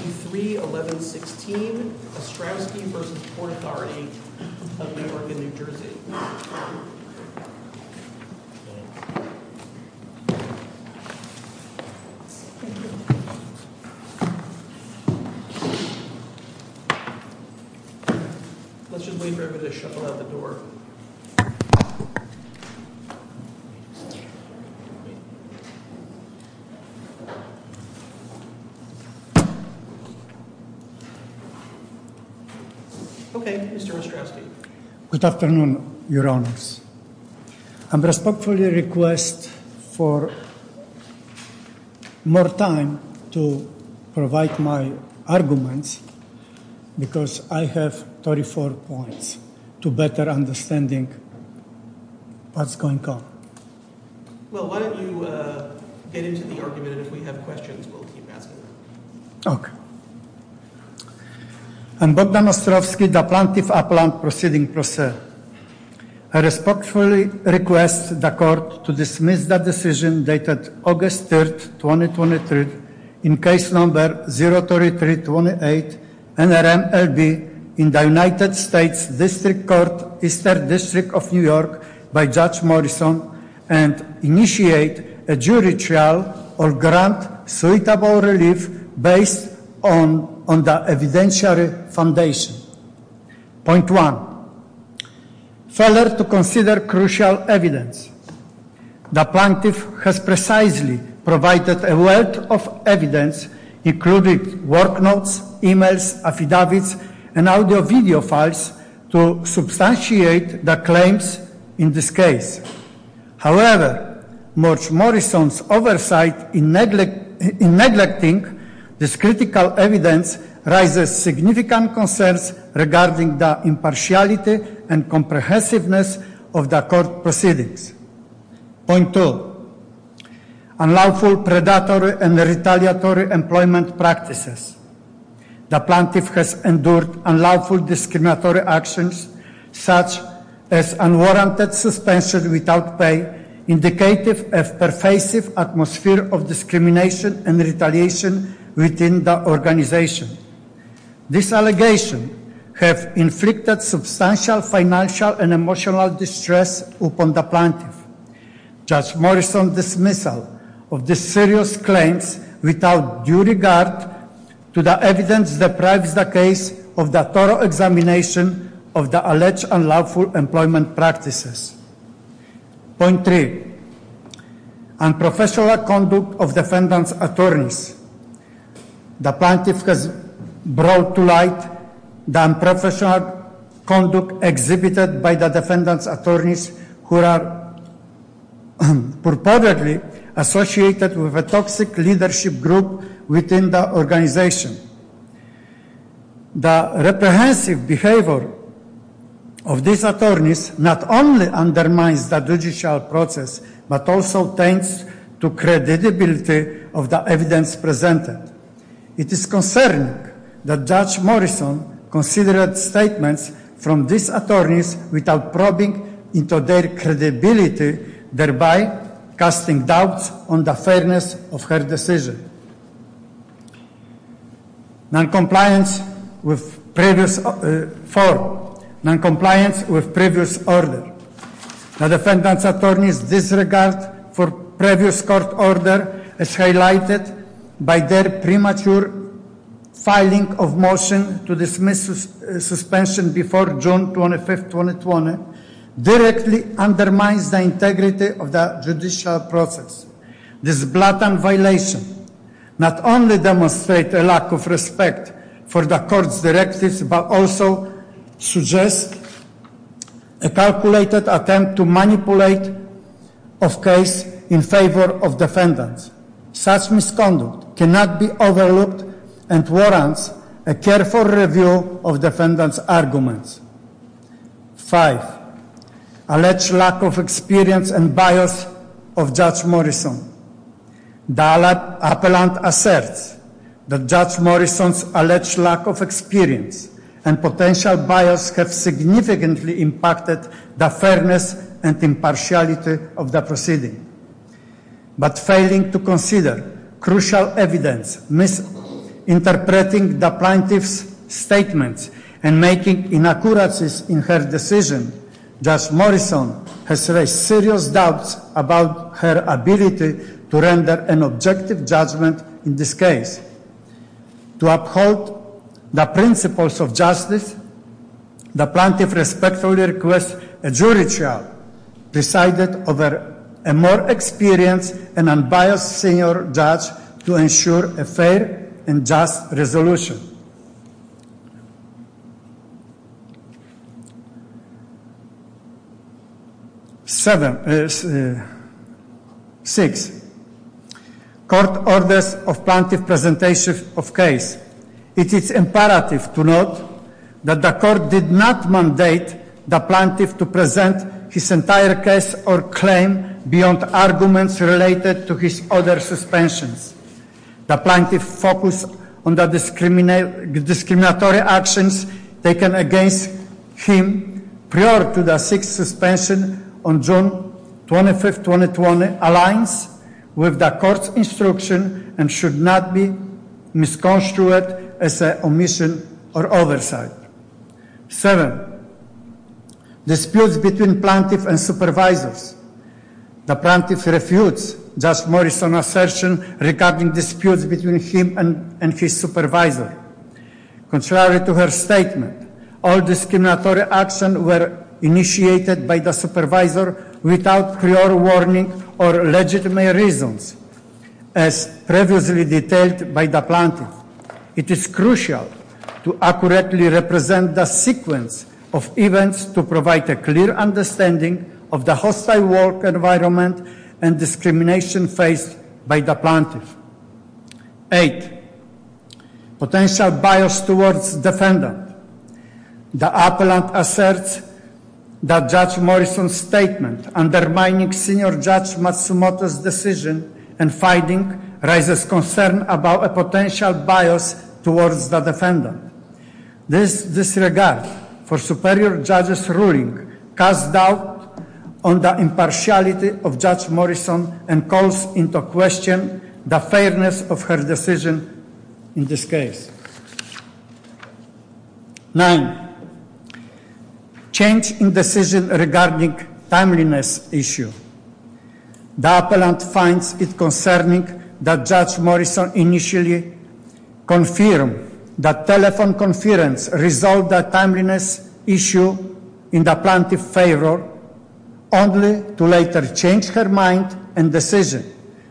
Let's just wait for everybody to shuffle out the door. Okay, Mr. Ostrowski. Good afternoon, Your Honors. I respectfully request for more time to provide my arguments, because I have 34 points to better understanding what's going on. Well, why don't you get into the argument, and if we have questions, we'll keep asking them. Okay. Based on the evidentiary foundation. Point one. Failure to consider crucial evidence. The plaintiff has precisely provided a wealth of evidence, including work notes, emails, affidavits, and audio-video files to substantiate the claims in this case. However, Murch Morrison's oversight in neglecting this critical evidence raises significant concerns regarding the impartiality and comprehensiveness of the court proceedings. Point two. Unlawful, predatory, and retaliatory employment practices. The plaintiff has endured unlawful, discriminatory actions, such as unwarranted suspension without pay, indicative of pervasive atmosphere of discrimination and retaliation within the organization. This allegation has inflicted substantial financial and emotional distress upon the plaintiff. Judge Morrison's dismissal of these serious claims without due regard to the evidence deprives the case of the thorough examination of the alleged unlawful employment practices. Point three. Unprofessional conduct of defendant's attorneys. The plaintiff has brought to light the unprofessional conduct exhibited by the defendant's attorneys who are purportedly associated with a toxic leadership group within the organization. The reprehensive behavior of these attorneys not only undermines the judicial process, but also tends to credibility of the evidence presented. It is concerning that Judge Morrison considered statements from these attorneys without probing into their credibility, thereby casting doubts on the fairness of her decision. Point four. Noncompliance with previous order. The defendant's attorneys' disregard for previous court order, as highlighted by their premature filing of motion to dismiss suspension before June 25, 2020, directly undermines the integrity of the judicial process. This blatant violation not only demonstrates a lack of respect for the court's directives, but also suggests a calculated attempt to manipulate a case in favor of defendants. Such misconduct cannot be overlooked and warrants a careful review of defendant's arguments. Five. Alleged lack of experience and bias of Judge Morrison. The appellant asserts that Judge Morrison's alleged lack of experience and potential bias have significantly impacted the fairness and impartiality of the proceeding. But failing to consider crucial evidence, misinterpreting the plaintiff's statements, and making inaccuracies in her decision, Judge Morrison has raised serious doubts about her ability to render an objective judgment in this case. To uphold the principles of justice, the plaintiff respectfully requests a jury trial decided over a more experienced and unbiased senior judge to ensure a fair and just resolution. Six. Court orders of plaintiff presentation of case. It is imperative to note that the court did not mandate the plaintiff to present his entire case or claim beyond arguments related to his other suspensions. The plaintiff's focus on the discriminatory actions taken against him prior to the sixth suspension on June 25, 2020, aligns with the court's instruction and should not be misconstrued as an omission or oversight. Seven. Disputes between plaintiff and supervisors. The plaintiff refutes Judge Morrison's assertion regarding disputes between him and his supervisor. Contrary to her statement, all discriminatory actions were initiated by the supervisor without clear warning or legitimate reasons, as previously detailed by the plaintiff. It is crucial to accurately represent the sequence of events to provide a clear understanding of the hostile work environment and discrimination faced by the plaintiff. Eight. Potential bias towards defendant. The appellant asserts that Judge Morrison's statement undermining senior judge Matsumoto's decision in fighting raises concern about a potential bias towards the defendant. This disregard for superior judge's ruling casts doubt on the impartiality of Judge Morrison and calls into question the fairness of her decision in this case. Nine. Change in decision regarding timeliness issue. The appellant finds it concerning that Judge Morrison initially confirmed that telephone conference resolved the timeliness issue in the plaintiff's favor only to later change her mind and decision.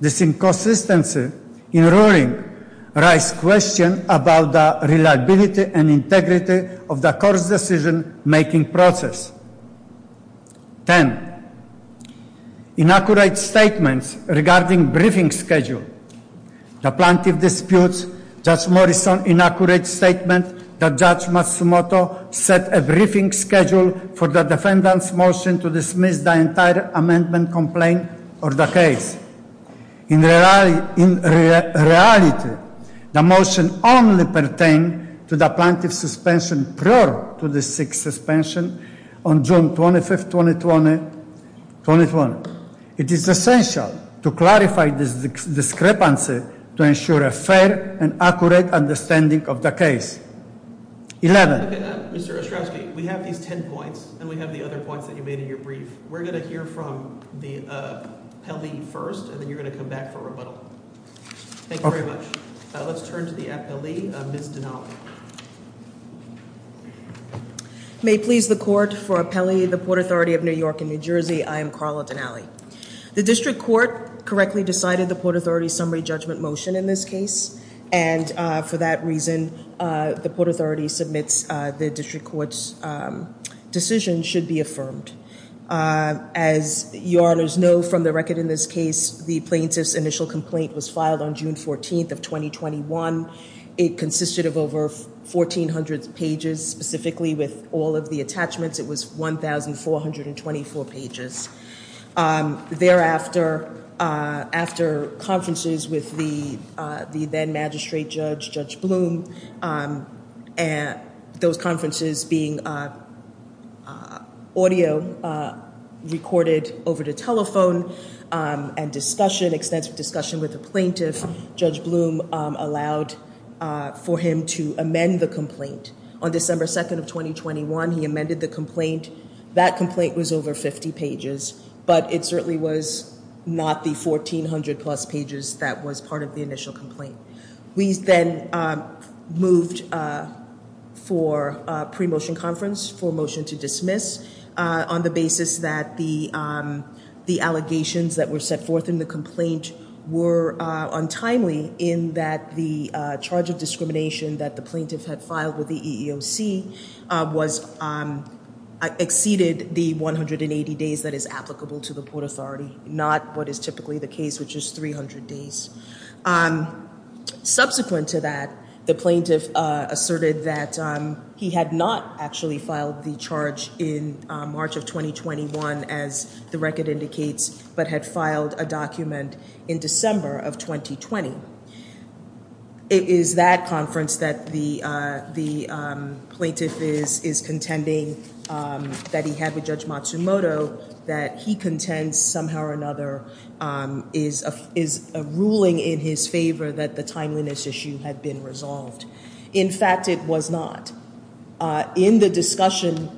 This inconsistency in ruling raises questions about the reliability and integrity of the court's decision-making process. Ten. Inaccurate statements regarding briefing schedule. The plaintiff disputes Judge Morrison's inaccurate statement that Judge Matsumoto set a briefing schedule for the defendant's motion to dismiss the entire amendment complaint or the case. In reality, the motion only pertained to the plaintiff's suspension prior to the sixth suspension on June 25, 2020. It is essential to clarify this discrepancy to ensure a fair and accurate understanding of the case. Eleven. Mr. Ostrowski, we have these ten points, and we have the other points that you made in your brief. We're going to hear from the appellee first, and then you're going to come back for rebuttal. Thank you very much. Let's turn to the appellee, Ms. Donnelly. May it please the court, for appellee of the Port Authority of New York and New Jersey, I am Carla Donnelly. The district court correctly decided the Port Authority's summary judgment motion in this case. And for that reason, the Port Authority submits the district court's decision should be affirmed. As you honors know from the record in this case, the plaintiff's initial complaint was filed on June 14th of 2021. It consisted of over 1,400 pages, specifically with all of the attachments. It was 1,424 pages. Thereafter, after conferences with the then magistrate judge, Judge Bloom, those conferences being audio recorded over the telephone and discussion, extensive discussion with the plaintiff, Judge Bloom allowed for him to amend the complaint. On December 2nd of 2021, he amended the complaint. That complaint was over 50 pages, but it certainly was not the 1,400 plus pages that was part of the initial complaint. We then moved for pre-motion conference for motion to dismiss on the basis that the allegations that were set forth in the complaint were untimely in that the charge of discrimination that the plaintiff had filed with the EEOC exceeded the 180 days that is applicable to the Port Authority, not what is typically the case, which is 300 days. Subsequent to that, the plaintiff asserted that he had not actually filed the charge in March of 2021, as the record indicates, but had filed a document in December of 2020. It is that conference that the plaintiff is contending that he had with Judge Matsumoto, that he contends somehow or another is a ruling in his favor that the timeliness issue had been resolved. In fact, it was not. In the discussion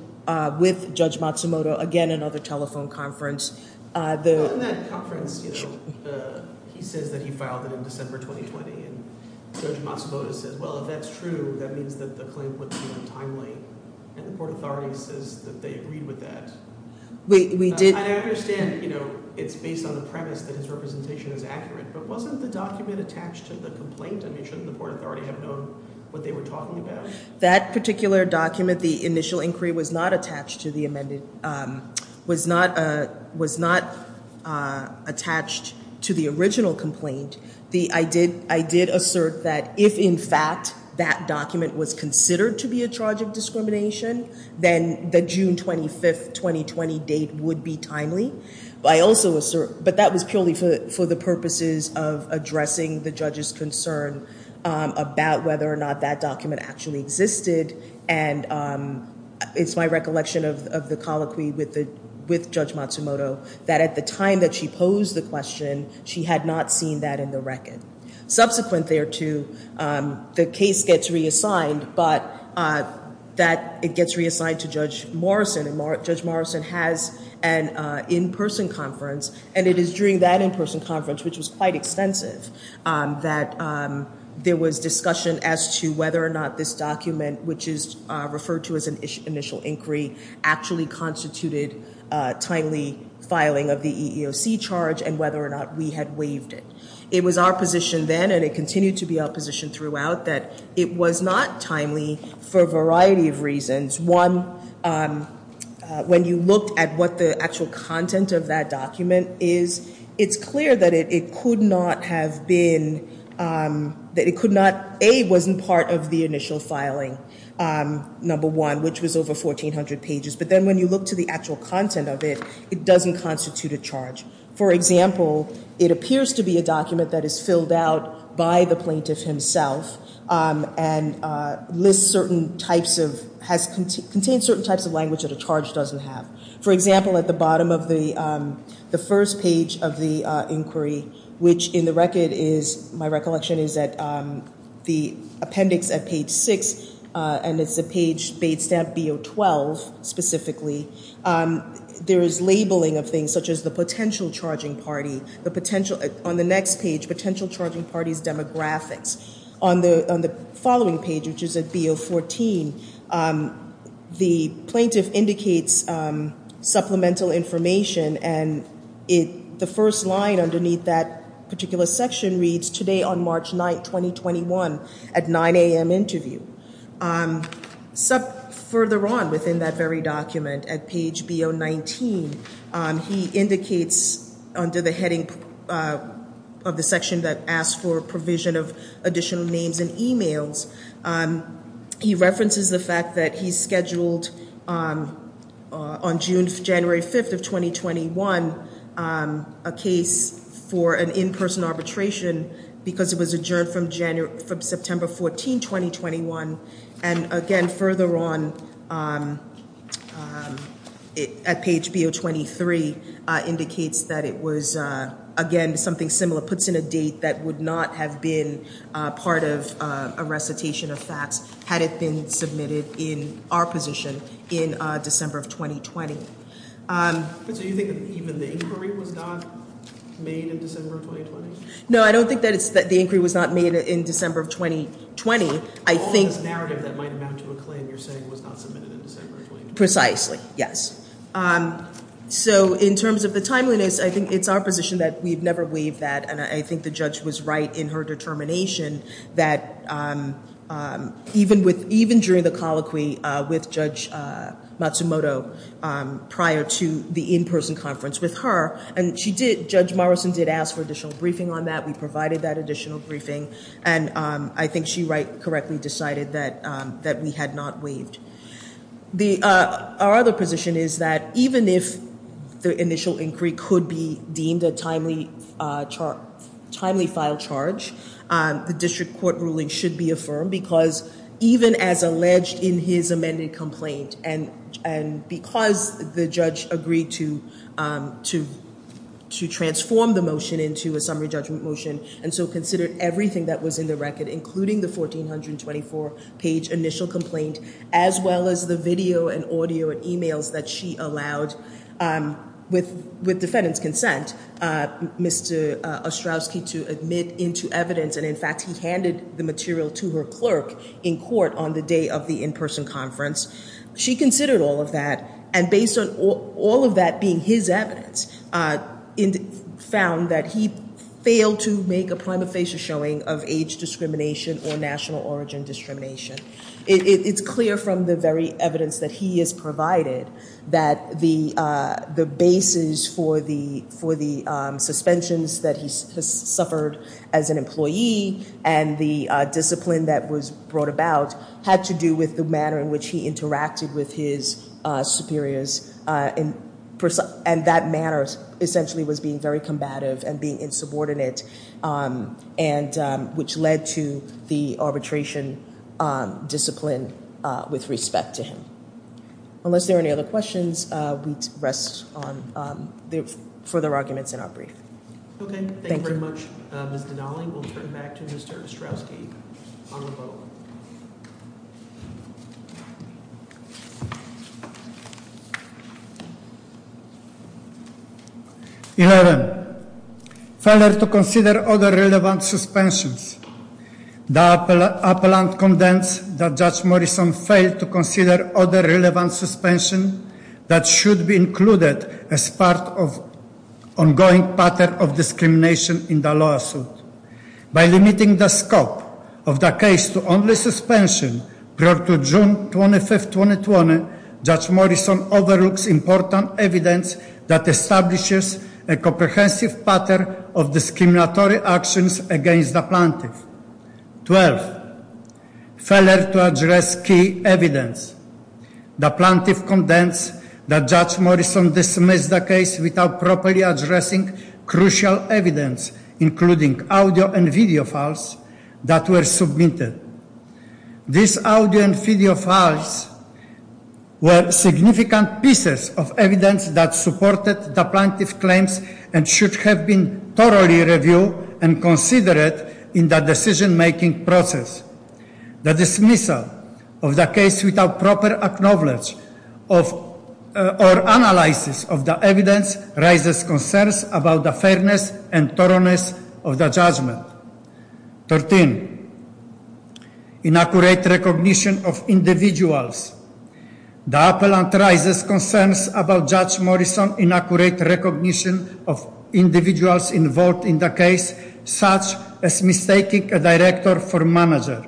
with Judge Matsumoto, again, another telephone conference. In that conference, he says that he filed it in December 2020. And Judge Matsumoto says, well, if that's true, that means that the claim was untimely. And the Port Authority says that they agreed with that. I understand it's based on the premise that his representation is accurate, but wasn't the document attached to the complaint? And shouldn't the Port Authority have known what they were talking about? That particular document, the initial inquiry, was not attached to the original complaint. I did assert that if, in fact, that document was considered to be a charge of discrimination, then the June 25, 2020 date would be timely. But that was purely for the purposes of addressing the judge's concern about whether or not that document actually existed. And it's my recollection of the colloquy with Judge Matsumoto that at the time that she posed the question, she had not seen that in the record. Subsequent thereto, the case gets reassigned, but that it gets reassigned to Judge Morrison. And Judge Morrison has an in-person conference, and it is during that in-person conference, which was quite extensive, that there was discussion as to whether or not this document, which is referred to as an initial inquiry, actually constituted timely filing of the EEOC charge and whether or not we had waived it. It was our position then, and it continued to be our position throughout, that it was not timely for a variety of reasons. One, when you looked at what the actual content of that document is, it's clear that it could not have been, that it could not, A, wasn't part of the initial filing, number one, which was over 1,400 pages. But then when you look to the actual content of it, it doesn't constitute a charge. For example, it appears to be a document that is filled out by the plaintiff himself and lists certain types of, has contained certain types of language that a charge doesn't have. For example, at the bottom of the first page of the inquiry, which in the record is, my recollection is, that the appendix at page six, and it's a page, page stamp B012 specifically, there is labeling of things such as the potential charging party, the potential, on the next page, potential charging party's demographics. On the following page, which is at B014, the plaintiff indicates supplemental information, and the first line underneath that particular section reads, today on March 9th, 2021, at 9 a.m. interview. Further on within that very document, at page B019, he indicates under the heading of the section that asks for provision of additional names and e-mails, he references the fact that he scheduled on January 5th of 2021 a case for an in-person arbitration because it was adjourned from September 14th, 2021. And again, further on, at page B023, indicates that it was, again, something similar, puts in a date that would not have been part of a recitation of facts had it been submitted in our position in December of 2020. So you think that even the inquiry was not made in December of 2020? No, I don't think that the inquiry was not made in December of 2020. All this narrative that might amount to a claim you're saying was not submitted in December of 2020? Precisely, yes. So in terms of the timeliness, I think it's our position that we've never waived that, and I think the judge was right in her determination that even during the colloquy with Judge Matsumoto prior to the in-person conference with her, and Judge Morrison did ask for additional briefing on that, we provided that additional briefing, and I think she correctly decided that we had not waived. Our other position is that even if the initial inquiry could be deemed a timely filed charge, the district court ruling should be affirmed, because even as alleged in his amended complaint, and because the judge agreed to transform the motion into a summary judgment motion, and so considered everything that was in the record, including the 1,424-page initial complaint, as well as the video and audio and emails that she allowed, with defendant's consent, Mr. Ostrowski to admit into evidence, and in fact he handed the material to her clerk in court on the day of the in-person conference, she considered all of that, and based on all of that being his evidence, found that he failed to make a prima facie showing of age discrimination or national origin discrimination. It's clear from the very evidence that he has provided that the basis for the suspensions that he has suffered as an employee and the discipline that was brought about had to do with the manner in which he interacted with his superiors, and that manner essentially was being very combative and being insubordinate, which led to the arbitration discipline with respect to him. Unless there are any other questions, we rest on further arguments in our brief. Okay. Thank you very much, Ms. Donnelly. We'll turn it back to Mr. Ostrowski on the vote. 11. Failure to consider other relevant suspensions. The appellant condemns that Judge Morrison failed to consider other relevant suspensions that should be included as part of ongoing pattern of discrimination in the lawsuit. By limiting the scope of the case to only suspension prior to June 25, 2020, Judge Morrison overlooks important evidence that establishes a comprehensive pattern of discriminatory actions against the plaintiff. 12. Failure to address key evidence. The plaintiff condemns that Judge Morrison dismissed the case without properly addressing crucial evidence, including audio and video files that were submitted. These audio and video files were significant pieces of evidence that supported the plaintiff's claims and should have been thoroughly reviewed and considered in the decision-making process. The dismissal of the case without proper acknowledgment or analysis of the evidence raises concerns about the fairness and thoroughness of the judgment. 13. Inaccurate recognition of individuals. The appellant raises concerns about Judge Morrison's inaccurate recognition of individuals involved in the case, such as mistaking a director for manager.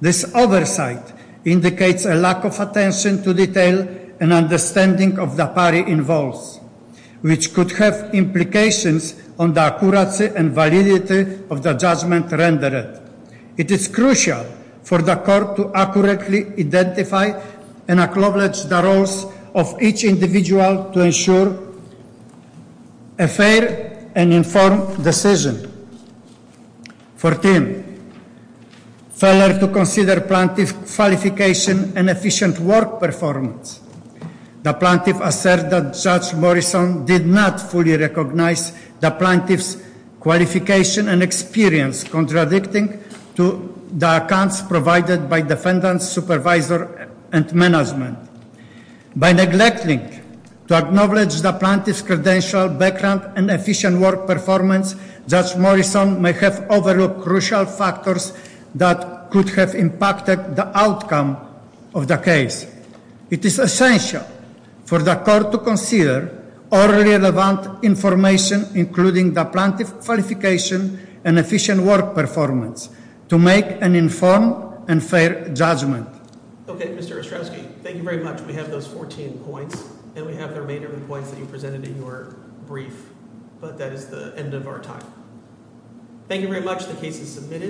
This oversight indicates a lack of attention to detail and understanding of the party involved, which could have implications on the accuracy and validity of the judgment rendered. It is crucial for the court to accurately identify and acknowledge the roles of each individual to ensure a fair and informed decision. 14. Failure to consider plaintiff's qualification and efficient work performance. The plaintiff asserts that Judge Morrison did not fully recognize the plaintiff's qualification and experience, contradicting the accounts provided by defendants, supervisors, and management. By neglecting to acknowledge the plaintiff's credential, background, and efficient work performance, Judge Morrison may have overlooked crucial factors that could have impacted the outcome of the case. It is essential for the court to consider all relevant information, including the plaintiff's qualification and efficient work performance, to make an informed and fair judgment. Thank you very much. We have those 14 points, and we have the remainder of the points that you presented in your brief. But that is the end of our time. Thank you very much. The case is submitted.